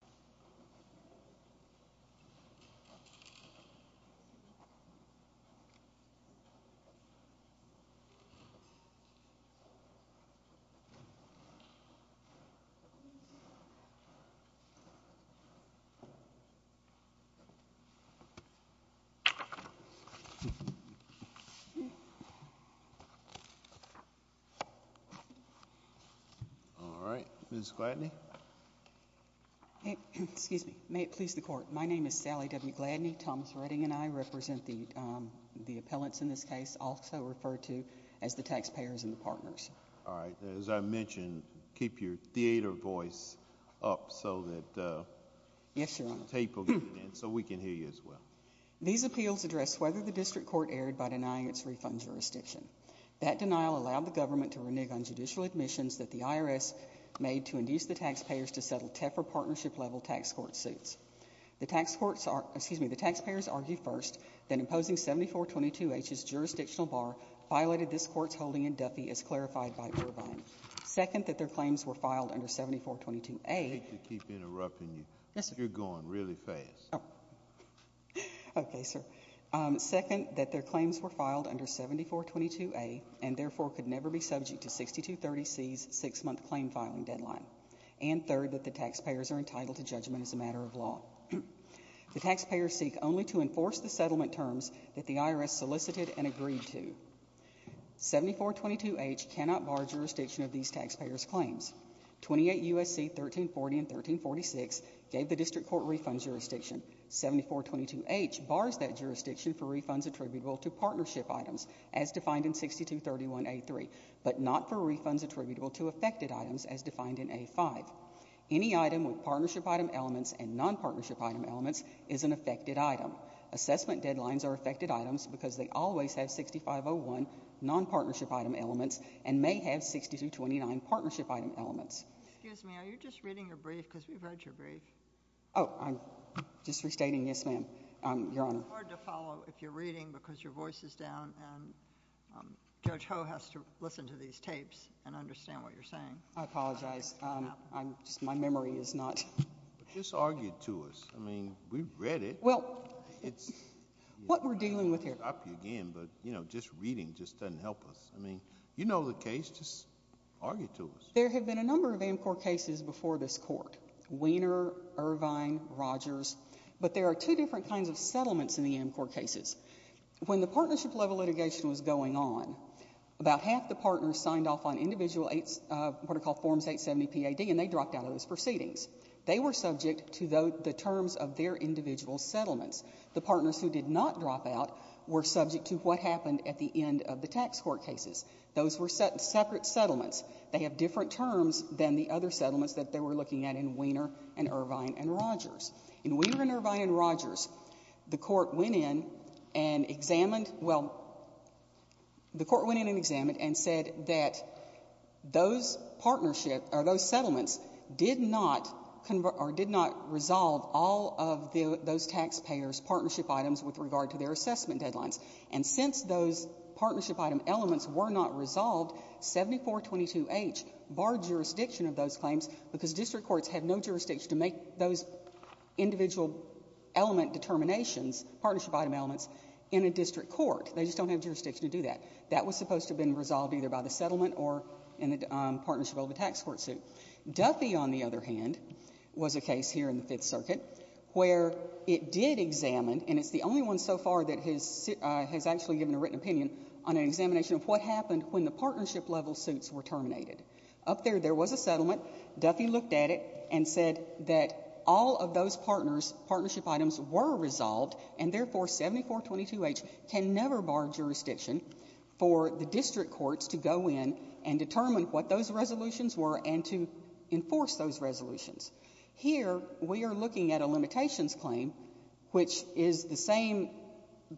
Attorney General William S. Excuse me. May it please the court. My name is Sally W. Gladney. Thomas Redding and I represent the um the appellants in this case also referred to as the taxpayers and the partners. All right as I mentioned keep your theater voice up so that uh yes your tape will get in so we can hear you as well. These appeals address whether the district court erred by denying its refund jurisdiction. That denial allowed the government to renege on judicial admissions that the IRS made to induce the taxpayers to settle tougher partnership level tax court suits. The tax courts are excuse me the taxpayers argued first then imposing 7422 h's jurisdictional bar violated this court's holding in Duffy as clarified by turbine. Second that their claims were filed under 7422a. I hate to keep interrupting you. Yes sir. You're going really fast. Oh okay sir. Um second that their claims were filed under 7422a and therefore could never be subject to 6230c's six-month claim filing deadline. And third that the taxpayers are entitled to judgment as a matter of law. The taxpayers seek only to enforce the settlement terms that the IRS solicited and agreed to. 7422 h cannot bar jurisdiction of these taxpayers claims. 28 USC 1340 and 1346 gave the district court refund jurisdiction. 7422 h bars that jurisdiction for refunds attributable to partnership items as defined in 6231a3 but not for refunds attributable to affected items as a5. Any item with partnership item elements and non-partnership item elements is an affected item. Assessment deadlines are affected items because they always have 6501 non-partnership item elements and may have 6229 partnership item elements. Excuse me are you just reading your brief because we've heard your brief. Oh I'm just restating yes ma'am um your honor. It's hard to follow if you're reading because your voice is down and um judge ho has to listen to these I'm just my memory is not. Just argue to us I mean we read it. Well it's what we're dealing with here. I'll stop you again but you know just reading just doesn't help us. I mean you know the case just argue to us. There have been a number of Amcorp cases before this court Weiner, Irvine, Rogers but there are two different kinds of settlements in the Amcorp cases. When the partnership level litigation was going on about half the partners signed off on individual what are called forms 870 P.A.D. and they dropped out of those proceedings. They were subject to the terms of their individual settlements. The partners who did not drop out were subject to what happened at the end of the tax court cases. Those were separate settlements. They have different terms than the other settlements that they were looking at in Weiner and Irvine and Rogers. In Weiner and Irvine and Rogers the court went in and examined well the court went in and said that those partnership or those settlements did not resolve all of those taxpayers partnership items with regard to their assessment deadlines and since those partnership item elements were not resolved 7422H barred jurisdiction of those claims because district courts have no jurisdiction to make those individual element determinations partnership item elements in a district court. They just don't have jurisdiction to do that. That was supposed to have been resolved either by the settlement or in the partnership of the tax court suit. Duffy on the other hand was a case here in the fifth circuit where it did examine and it's the only one so far that has actually given a written opinion on an examination of what happened when the partnership level suits were terminated. Up there there was a settlement Duffy looked at it and said that all of those partners partnership items were resolved and therefore 7422H can never bar jurisdiction for the district courts to go in and determine what those resolutions were and to enforce those resolutions. Here we are looking at a limitations claim which is the same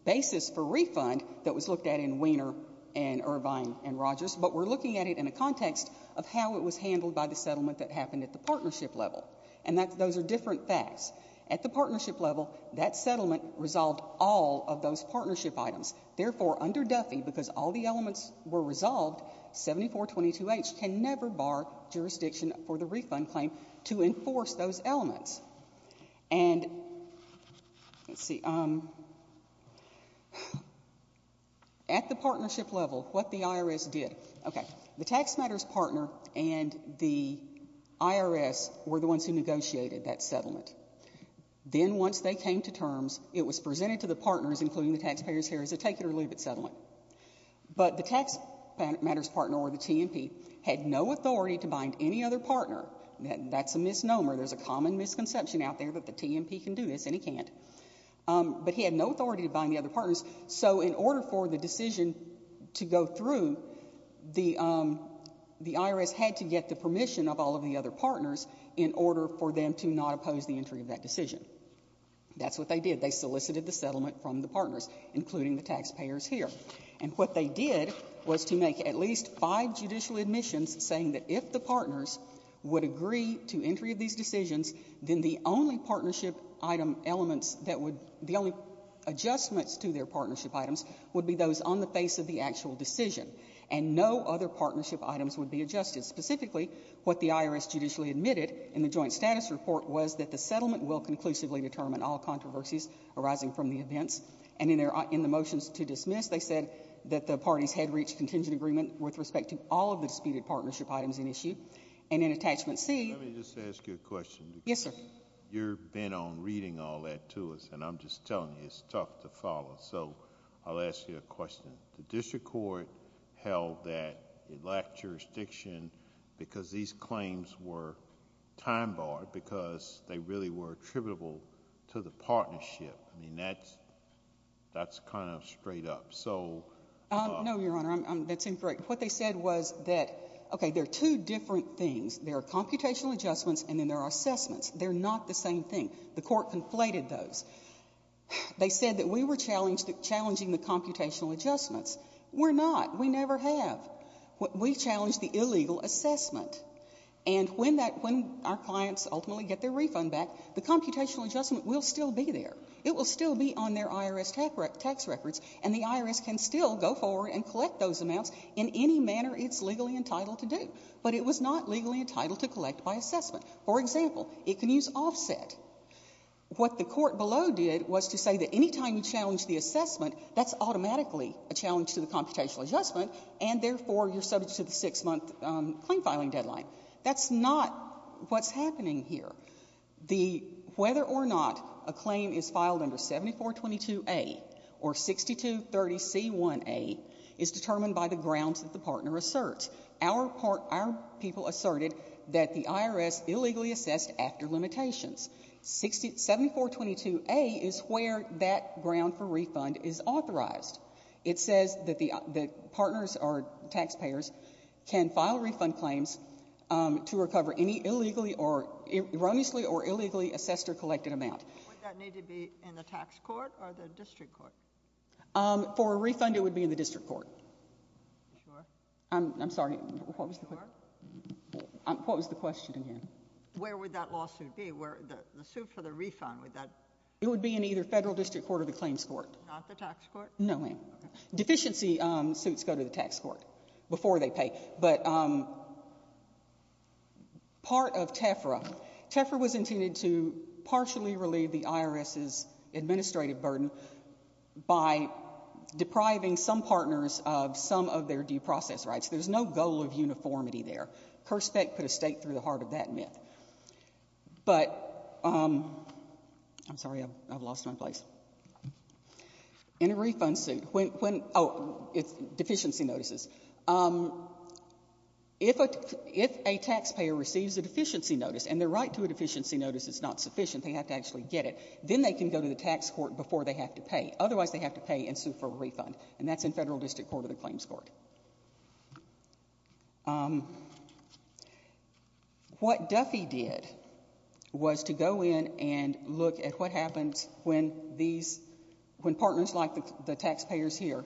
basis for refund that was looked at in Weiner and Irvine and Rogers but we're looking at it in a context of how it was handled by the partnership level that settlement resolved all of those partnership items therefore under Duffy because all the elements were resolved 7422H can never bar jurisdiction for the refund claim to enforce those elements and let's see um at the partnership level what the IRS did okay the tax matters partner and the IRS were the ones who negotiated that settlement then once they came to terms it was presented to the partners including the taxpayers here as a take it or leave it settlement but the tax matters partner or the TMP had no authority to bind any other partner that's a misnomer there's a common misconception out there that the TMP can do this and he can't um but he had no authority to bind the other partners so in order for the decision to go through the um the IRS had to get the permission of all of the partners in order for them to not oppose the entry of that decision that's what they did they solicited the settlement from the partners including the taxpayers here and what they did was to make at least five judicial admissions saying that if the partners would agree to entry of these decisions then the only partnership item elements that would the only adjustments to their partnership items would be those on the face of the actual decision and no other issue that the IRS judicially admitted in the joint status report was that the settlement will conclusively determine all controversies arising from the events and in their in the motions to dismiss they said that the parties had reached contingent agreement with respect to all of the disputed partnership items in issue and in attachment c let me just ask you a question yes sir you're bent on reading all that to us and i'm just telling you it's tough to follow so i'll ask you a question the district court held that it lacked jurisdiction because these claims were time-barred because they really were attributable to the partnership i mean that's that's kind of straight up so um no your honor i'm that's incorrect what they said was that okay there are two different things there are computational adjustments and then there are assessments they're not the same thing the court conflated those they said that we were challenged to challenging the computational adjustments we're not we never have we when that when our clients ultimately get their refund back the computational adjustment will still be there it will still be on their irs tax tax records and the irs can still go forward and collect those amounts in any manner it's legally entitled to do but it was not legally entitled to collect by assessment for example it can use offset what the court below did was to say that anytime you challenge the assessment that's automatically a challenge to the computational adjustment and therefore you're subject to the six-month claim filing deadline that's not what's happening here the whether or not a claim is filed under 7422a or 6230c1a is determined by the grounds that the partner asserts our part our people asserted that the irs illegally assessed after limitations 60 7422a is where that ground for refund is authorized it says that the the partners are taxpayers can file refund claims um to recover any illegally or erroneously or illegally assessed or collected amount would that need to be in the tax court or the district court um for a refund it would be in the district court sure i'm i'm sorry what was the question i'm what was the question again where would that lawsuit be where the suit for the refund would that it would be in either federal district court or the claims court not the tax court no ma'am deficiency um suits go to the tax court before they pay but um part of tefra tefra was intended to partially relieve the irs's administrative burden by depriving some partners of some of their due process rights there's no goal of uniformity there perspect put a state through the heart of that myth but um i'm sorry i've lost my place in a refund suit when when oh it's deficiency notices um if a if a taxpayer receives a deficiency notice and their right to a deficiency notice is not sufficient they have to actually get it then they can go to the tax court before they have to pay otherwise they have to pay and that's in federal district court of the claims court um what duffy did was to go in and look at what happens when these when partners like the taxpayers here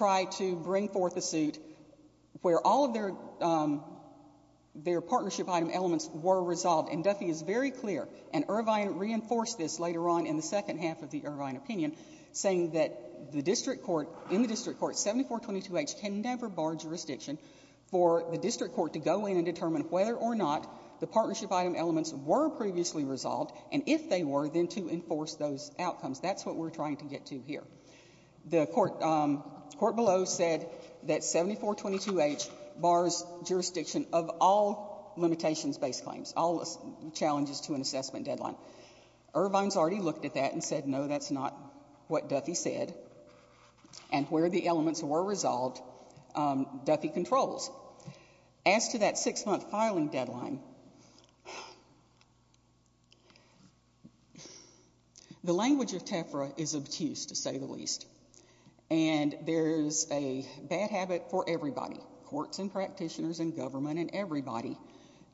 try to bring forth a suit where all of their um their partnership item elements were resolved and duffy is very clear and irvine reinforced this later on in the second half of the irvine opinion saying that the district court in the district court 74 22 h can never bar jurisdiction for the district court to go in and determine whether or not the partnership item elements were previously resolved and if they were then to enforce those outcomes that's what we're trying to get to here the court um court below said that 74 22 h bars jurisdiction of all limitations base claims all challenges to an assessment deadline irvine's already looked at that and said no that's not what duffy said and where the elements were resolved um duffy controls as to that six-month filing deadline the language of tefra is obtuse to say the least and there's a bad habit for everybody courts and practitioners and government and everybody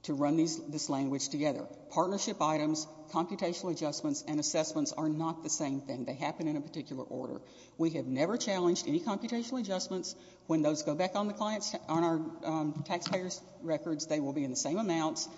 to run these this language together partnership items computational adjustments and assessments are not the same thing they happen in a particular order we have never challenged any computational adjustments when those go back on the clients on our taxpayers records they will be in the same amounts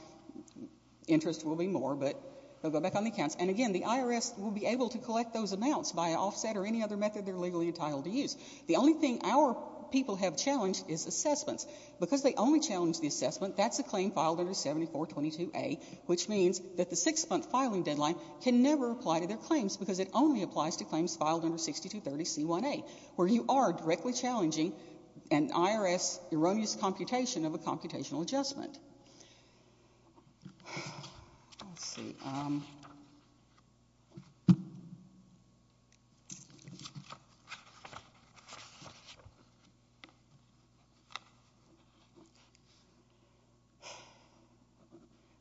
interest will be more but they'll go back on the accounts and again the irs will be able to collect those amounts by offset or any other method they're legally entitled to use the only our people have challenged is assessments because they only challenge the assessment that's a claim filed under 74 22a which means that the six-month filing deadline can never apply to their claims because it only applies to claims filed under 62 30 c1a where you are directly challenging an irs erroneous computation of a computational adjustment um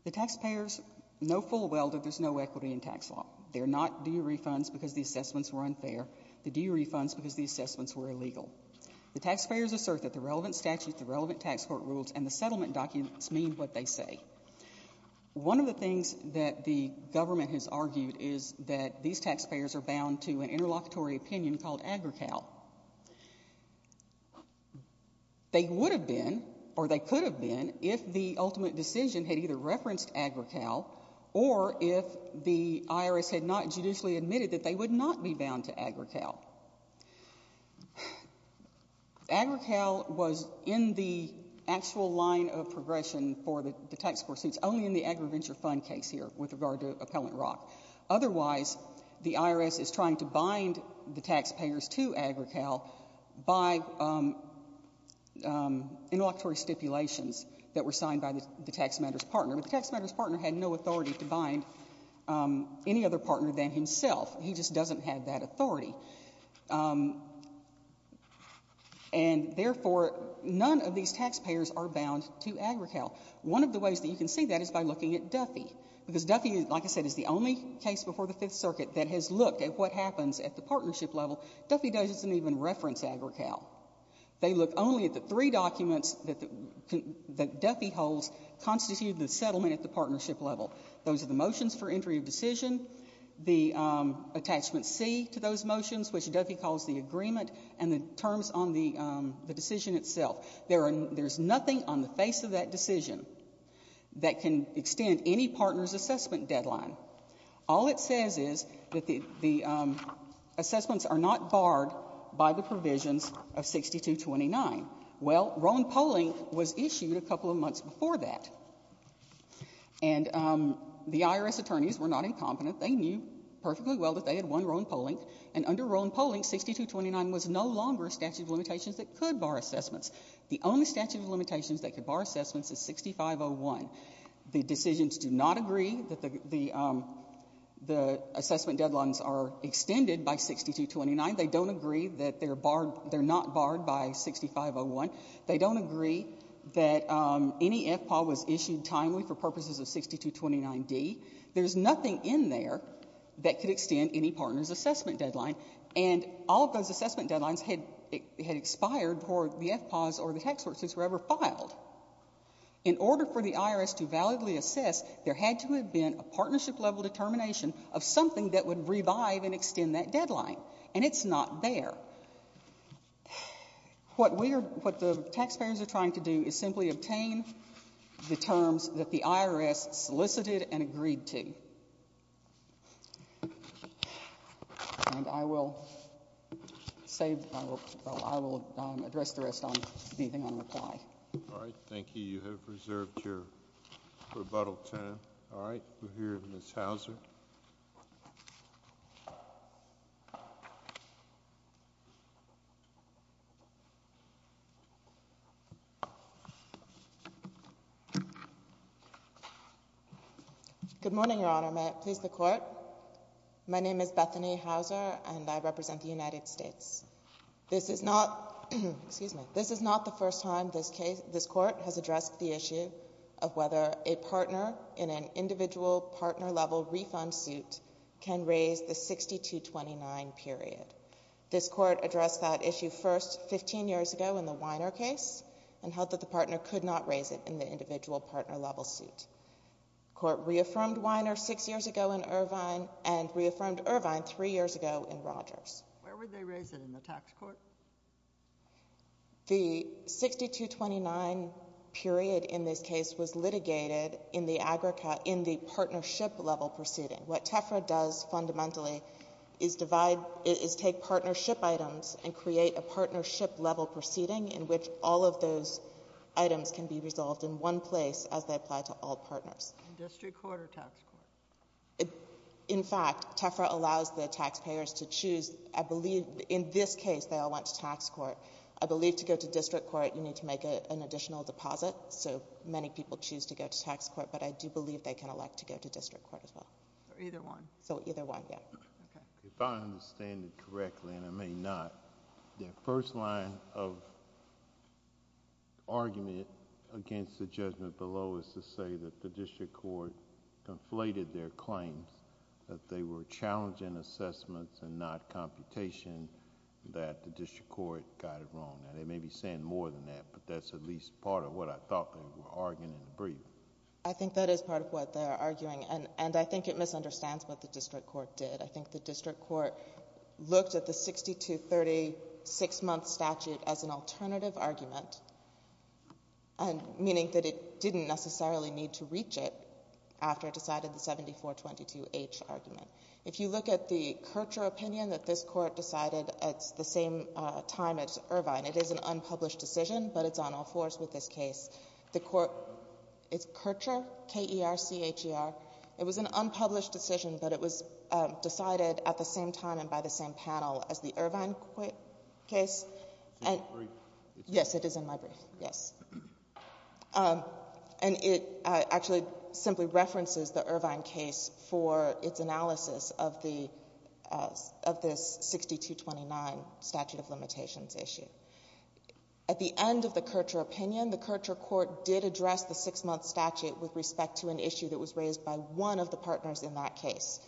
the taxpayers no full welder there's no equity in tax law they're not duree funds because the assessments were unfair the duree funds because the assessments were illegal the taxpayers assert that the relevant statute the relevant tax court rules and the settlement documents mean what they say one of the things that the government has argued is that these taxpayers are bound to an interlocutory opinion called agri-cal they would have been or they could have been if the ultimate decision had either referenced agri-cal or if the irs had not judicially admitted that they would not be bound to agri-cal agri-cal was in the actual line of progression for the tax court since only in the agri-venture fund case here with regard to appellant rock otherwise the irs is trying to bind the taxpayers to agri-cal by um um interlocutory stipulations that were signed by the the tax matters partner but the tax matters partner had no authority to bind um any other partner than himself he just doesn't have that authority um and therefore none of these taxpayers are bound to agri-cal one of the ways that you can see that is by looking at duffy because duffy like i said is the only case before the fifth circuit that has looked at what happens at the partnership level duffy doesn't even reference agri-cal they look only at the three documents that the duffy holds constitute the settlement at the partnership level those are the motions for entry of decision the attachment c to those motions which duffy calls the agreement and the terms on the decision itself there are there's nothing on the face of that decision that can extend any partner's assessment deadline all it says is that the the assessments are not barred by the provisions of 6229 well rowan polling was issued a couple of months before that and um the irs attorneys were not incompetent they knew perfectly well that they had one rowan polling and under rowan polling 6229 was no longer statute of limitations that could bar assessments the only statute of limitations that could bar assessments is 6501 the decisions do not agree that the the um the assessment deadlines are extended by 6229 they don't agree that they're issued timely for purposes of 6229d there's nothing in there that could extend any partner's assessment deadline and all those assessment deadlines had had expired for the f pause or the tax forces were ever filed in order for the irs to validly assess there had to have been a partnership level determination of something that would revive and extend that deadline and it's not there what we are what the taxpayers are trying to do is simply obtain the terms that the irs solicited and agreed to and i will save i will i will address the rest on anything on reply all right thank you you so good morning your honor may it please the court my name is bethany hauser and i represent the united states this is not excuse me this is not the first time this case this court has addressed the issue of whether a partner in an individual partner level refund suit can raise the 6229 period this court addressed that issue first 15 years ago in the weiner case and held that the partner could not raise it in the individual partner level suit court reaffirmed weiner six years ago in irvine and reaffirmed irvine three years ago in rogers where would they raise the 6229 period in this case was litigated in the agrica in the partnership level proceeding what tefra does fundamentally is divide is take partnership items and create a partnership level proceeding in which all of those items can be resolved in one place as they apply to all partners district court or tax court in fact tefra allows the taxpayers to choose i believe in this case they all went to tax court i believe to go to district court you need to make an additional deposit so many people choose to go to tax court but i do believe they can elect to go to district court as well or either one so either one yeah okay if i understand it correctly and i may not the first line of argument against the judgment below is to say that the district court conflated their claims that they were challenging assessments and not computation that the district court got it wrong now they may be saying more than that but that's at least part of what i thought they were arguing in the brief i think that is part of what they're arguing and and i think it misunderstands what the district court did i think the district court looked at the 60 to 36 month statute as an alternative argument and meaning that it didn't necessarily need to reach it after it decided the 7422 h argument if you look at the kercher opinion that this court decided at the same time as irvine it is an unpublished decision but it's on all fours with this case the court it's kercher k-e-r-c-h-e-r it was an unpublished decision but it was decided at the same time and by the same panel as the irvine case and yes it is in my yes um and it actually simply references the irvine case for its analysis of the of this 6229 statute of limitations issue at the end of the kercher opinion the kercher court did address the six-month statute with respect to an issue that was raised by one of the partners in that case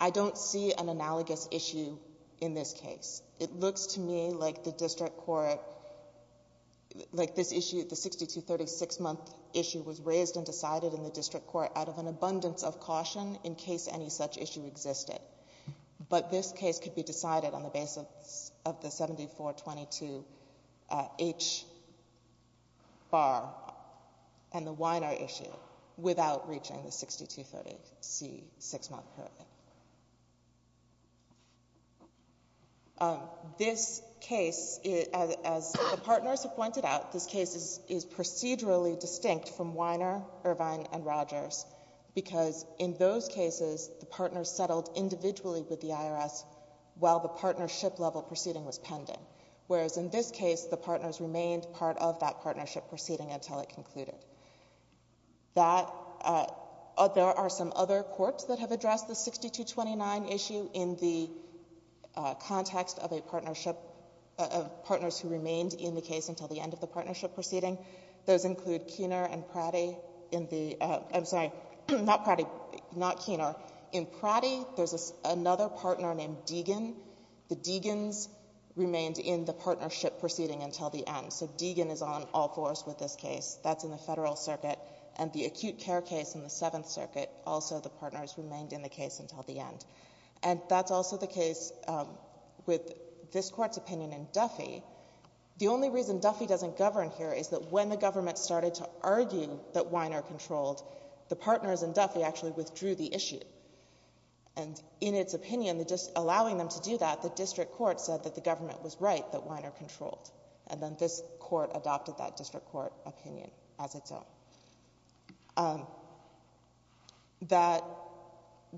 i don't see an analogous issue in this case it looks to me like the district court like this issue the 6236 month issue was raised and decided in the district court out of an abundance of caution in case any such issue existed but this case could be decided on the basis of the 7422 h bar and the winer issue without reaching the 6236 month currently um this case as the partners have pointed out this case is procedurally distinct from weiner irvine and rogers because in those cases the partners settled individually with the irs while the partnership level proceeding was pending whereas in this case the partners remained part of that partnership proceeding until it concluded that uh there are some other courts that have addressed the 6229 issue in the context of a partnership of partners who remained in the case until the end of the partnership proceeding those include keener and pratty in the i'm sorry not pratty not keener in pratty there's another partner named deegan the deegans remained in the partnership proceeding until the end so deegan is on all fours with this case that's in the federal circuit and the acute care case in the seventh circuit also the partners remained in the case until the end and that's also the case um with this court's opinion in duffy the only reason duffy doesn't govern here is that when the government started to argue that weiner controlled the partners and duffy actually withdrew the issue and in its opinion that just allowing them to do that the district court said that the government was right that weiner controlled and then this court adopted that district court opinion as its own that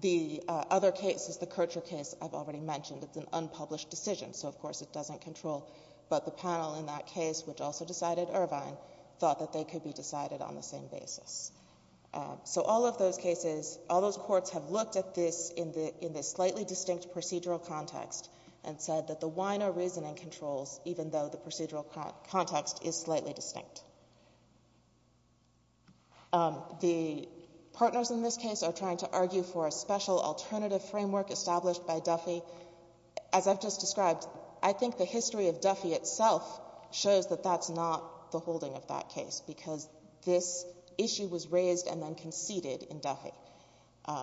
the other case is the kercher case i've already mentioned it's an unpublished decision so of course it doesn't control but the panel in that case which also decided irvine thought that they could be decided on the same basis so all of those cases all those courts have looked at this in the in this slightly distinct procedural context and said that the weiner reasoning controls even though the procedural context is slightly distinct the partners in this case are trying to argue for a special alternative framework established by duffy as i've just described i think the history of duffy itself shows that that's not the holding of that case because this issue was raised and then conceded in duffy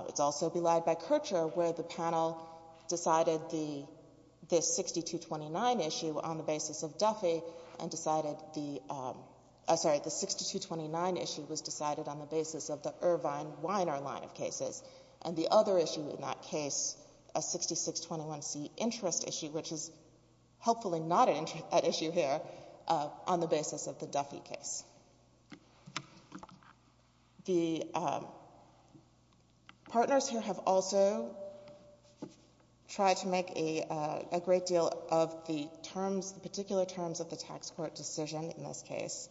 it's also belied by kercher where the panel decided the this 6229 issue on the basis of duffy and decided the um sorry the 6229 issue was decided on the basis of the irvine weiner line of cases and the other issue in that case a 6621 c interest issue which is hopefully not an interest that issue here uh on the basis of the duffy case the um partners here have also tried to make a a great deal of the terms the particular terms of the tax court decision in this case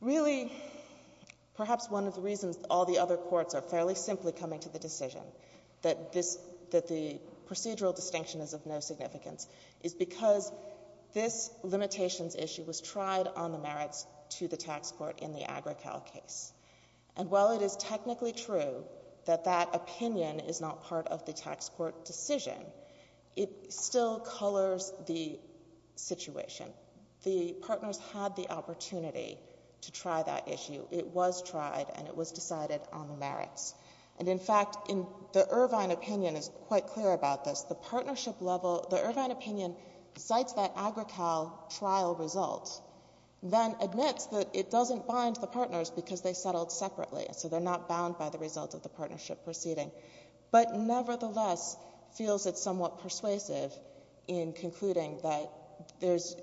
really perhaps one of the reasons all the other courts are fairly simply coming to the decision that this that the procedural distinction is of no significance is because this limitations issue was tried on the merits to the tax court in the agra cal case and while it is technically true that that opinion is not part of the tax court decision it still colors the situation the partners had the opportunity to try that issue it was tried and it was decided on the merits and in fact in the irvine opinion is quite clear about this the partnership level the irvine opinion cites that agra cal trial result then admits that it doesn't bind the partners because they settled separately so they're not bound by the result of the partnership proceeding but nevertheless feels it's somewhat persuasive in concluding that there's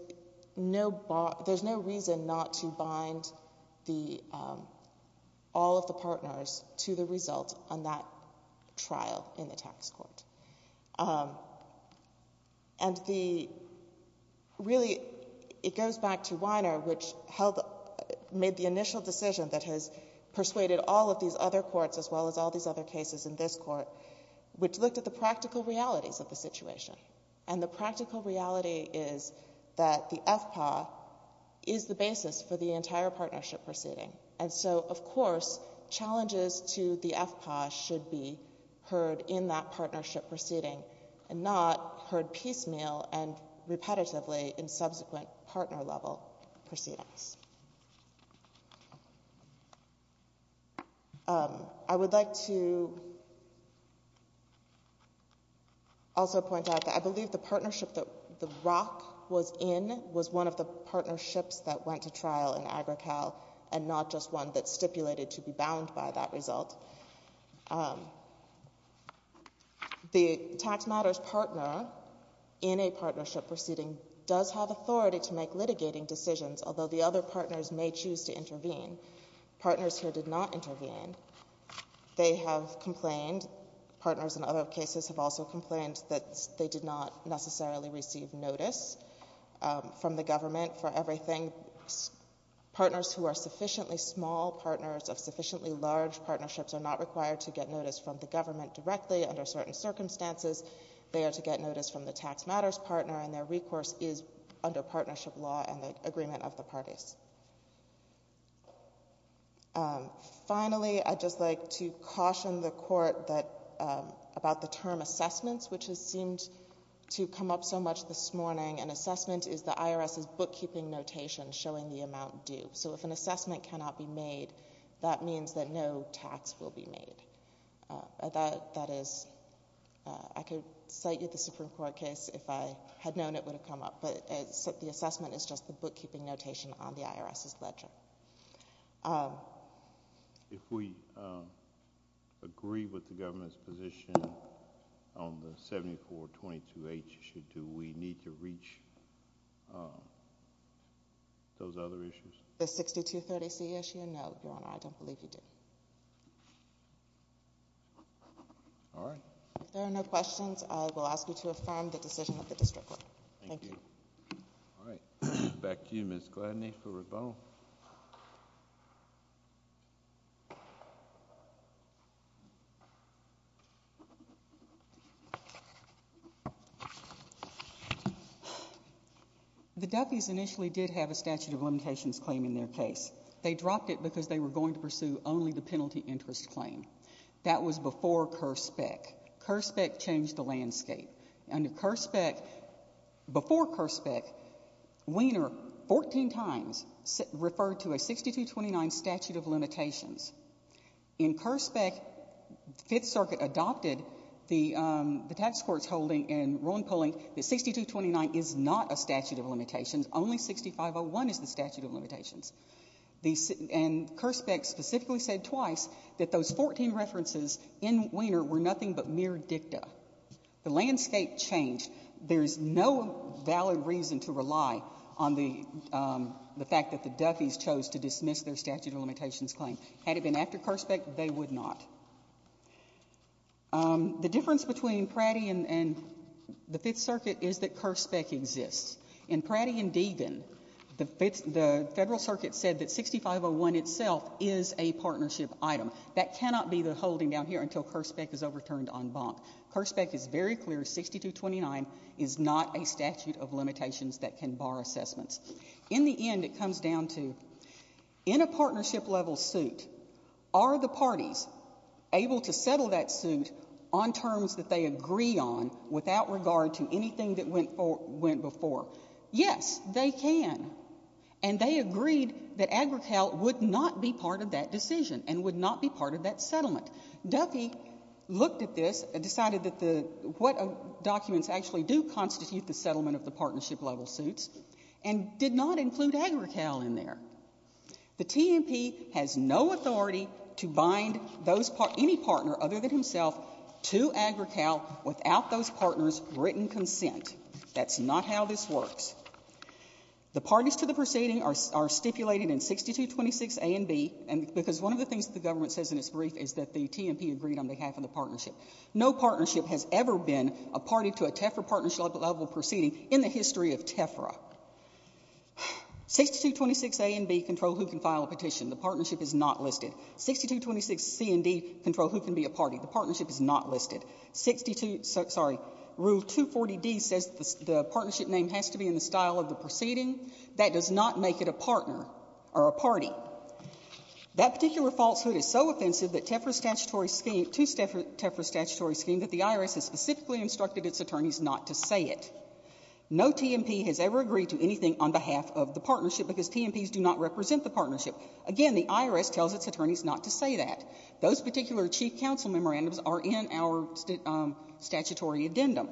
no there's no reason not to bind the um all of the partners to the result on that trial in the tax court um and the really it goes back to weiner which held made the initial decision that has persuaded all of these other courts as well as all these other cases in this court which looked at the practical realities of the situation and the practical reality is that the fpa is the basis for the entire partnership proceeding and so of course challenges to the fpa should be heard in that partnership proceeding and not heard piecemeal and repetitively in subsequent partner level proceedings um i would like to also point out that i believe the partnership that the rock was in was one of the partnerships that went to trial in agra cal and not just one that stipulated to be bound by that result the tax matters partner in a partnership proceeding does have authority to make litigating decisions although the other partners may choose to intervene partners here did not intervene they have complained partners in other cases have also complained that they did not receive notice from the government for everything partners who are sufficiently small partners of sufficiently large partnerships are not required to get notice from the government directly under certain circumstances they are to get notice from the tax matters partner and their recourse is under partnership law and the agreement of the parties finally i'd just like to caution the court that about the term assessments which has seemed to come up so much this morning an assessment is the irs's bookkeeping notation showing the amount due so if an assessment cannot be made that means that no tax will be made that that is i could cite you the supreme court case if i had known it would have come up but it's the assessment is just the bookkeeping notation on the irs's ledger um if we uh agree with the government's position on the 7422h issue do we need to reach those other issues the 6230c issue no your honor i don't believe you do all right if there are no questions i will ask you to affirm the decision of the district thank you all right back to you miss gladney for rebel the duffies initially did have a statute of limitations claim in their case they dropped it because they were going to pursue only the penalty interest claim that was before cur spec cur spec changed the landscape under cur spec before cur spec wiener 14 times referred to a 6229 statute of limitations in cur spec fifth circuit adopted the um the tax court's holding and rolling polling that 6229 is not a statute of limitations only 6501 is the statute of limitations the and cur spec specifically said twice that those 14 references in wiener were nothing but mere dicta the landscape changed there's no valid reason to rely on the um the fact that the duffies chose to dismiss their statute of limitations claim had it been after cur spec they would not um the difference between pratty and and the fifth circuit is that cur spec exists in pratty and deegan the fits the federal circuit said that 6501 itself is a partnership item that cannot be the holding down here until cur spec is overturned on bonk cur spec is very clear 6229 is not a statute of limitations that can bar assessments in the end it comes down to in a partnership level suit are the parties able to settle that suit on terms that they agree on without regard to anything that went for went before yes they can and they agreed that agri-cal would not be part of that decision and would not be part of that settlement duffy looked at this and decided that the what documents actually do constitute the settlement of the partnership level suits and did not include agri-cal in there the tmp has no authority to bind those any partner other than himself to agri-cal without those partners written consent that's not how this works the parties to the proceeding are stipulated in 6226 a and b and because one of the things that the government says in its brief is that the tmp agreed on behalf of the partnership no partnership has ever been a party to a tefra partnership level proceeding in the history of tefra 6226 a and b control who can file a petition the partnership is not listed 6226 c and d control who can be a party the partnership is not listed 62 sorry rule 240d says the partnership name has to be in the style of the proceeding that does not make it a partner or a party that particular falsehood is so offensive that tefra statutory scheme to tefra statutory scheme that the irs has specifically instructed its attorneys not to say it no tmp has ever agreed to anything on behalf of the partnership because tmp's do not represent the partnership again the irs tells its attorneys not to say that those particular chief counsel memorandums are in our statutory addendum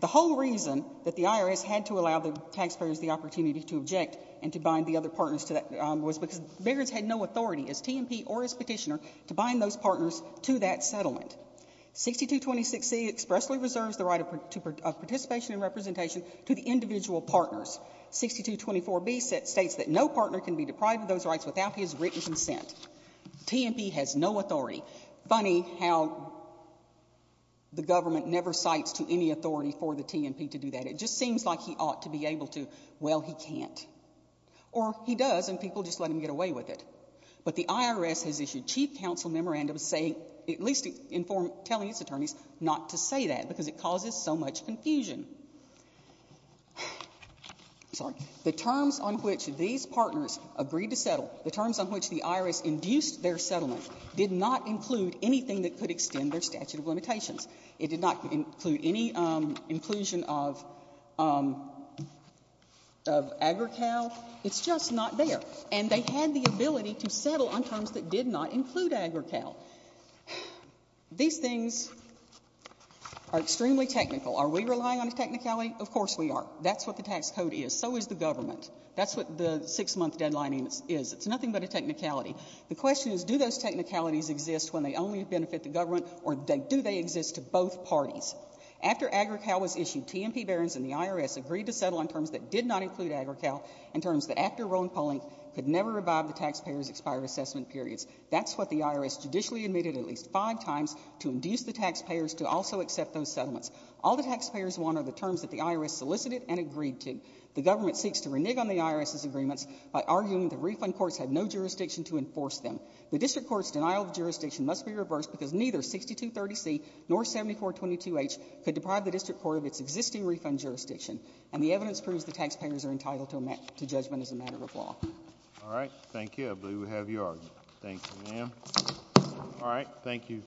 the whole reason that the irs had to allow the taxpayers the opportunity to object and to bind the other partners to that was because the irs had no authority as tmp or as petitioner to bind those partners to that settlement 6226 c expressly reserves the right of participation and representation to the individual partners 6224 b states that no partner can be deprived of those rights without his written consent tmp has no authority funny how the government never cites to any authority for the tmp to do that it just seems like he ought to be able to well he can't or he does and people just let him get away with it but the irs has issued chief counsel memorandums saying at least inform telling its attorneys not to say that because it causes so much confusion sorry the terms on which these partners agreed to settle the terms on which the irs induced their settlement did not include anything that could extend their statute of limitations it did not include any um inclusion of um of agri-cal it's just not there and they had the ability to settle on terms that did not include agri-cal these things are extremely technical are we relying on a technicality of course we are that's what the tax code is so is the government that's what the six-month deadline is it's nothing but a technicality the question is do those technicalities exist when they only benefit the government or they do they exist to both parties after agri-cal was issued tmp barons and the irs agreed to settle on terms that did not include agri-cal in terms that after rolling polling could never revive the taxpayers expired assessment periods that's what the irs judicially admitted at least five times to induce the taxpayers to also accept those settlements all the taxpayers want are the terms that the irs solicited and agreed to the government seeks to renege on the irs's agreements by arguing the refund courts have no jurisdiction to enforce them the district court's denial of jurisdiction must be reversed because neither 6230c nor 7422h could deprive the district court of its existing refund jurisdiction and the evidence proves the taxpayers are entitled to met to judgment as a matter of law all right thank you i believe we have your argument thank you ma'am all right thank you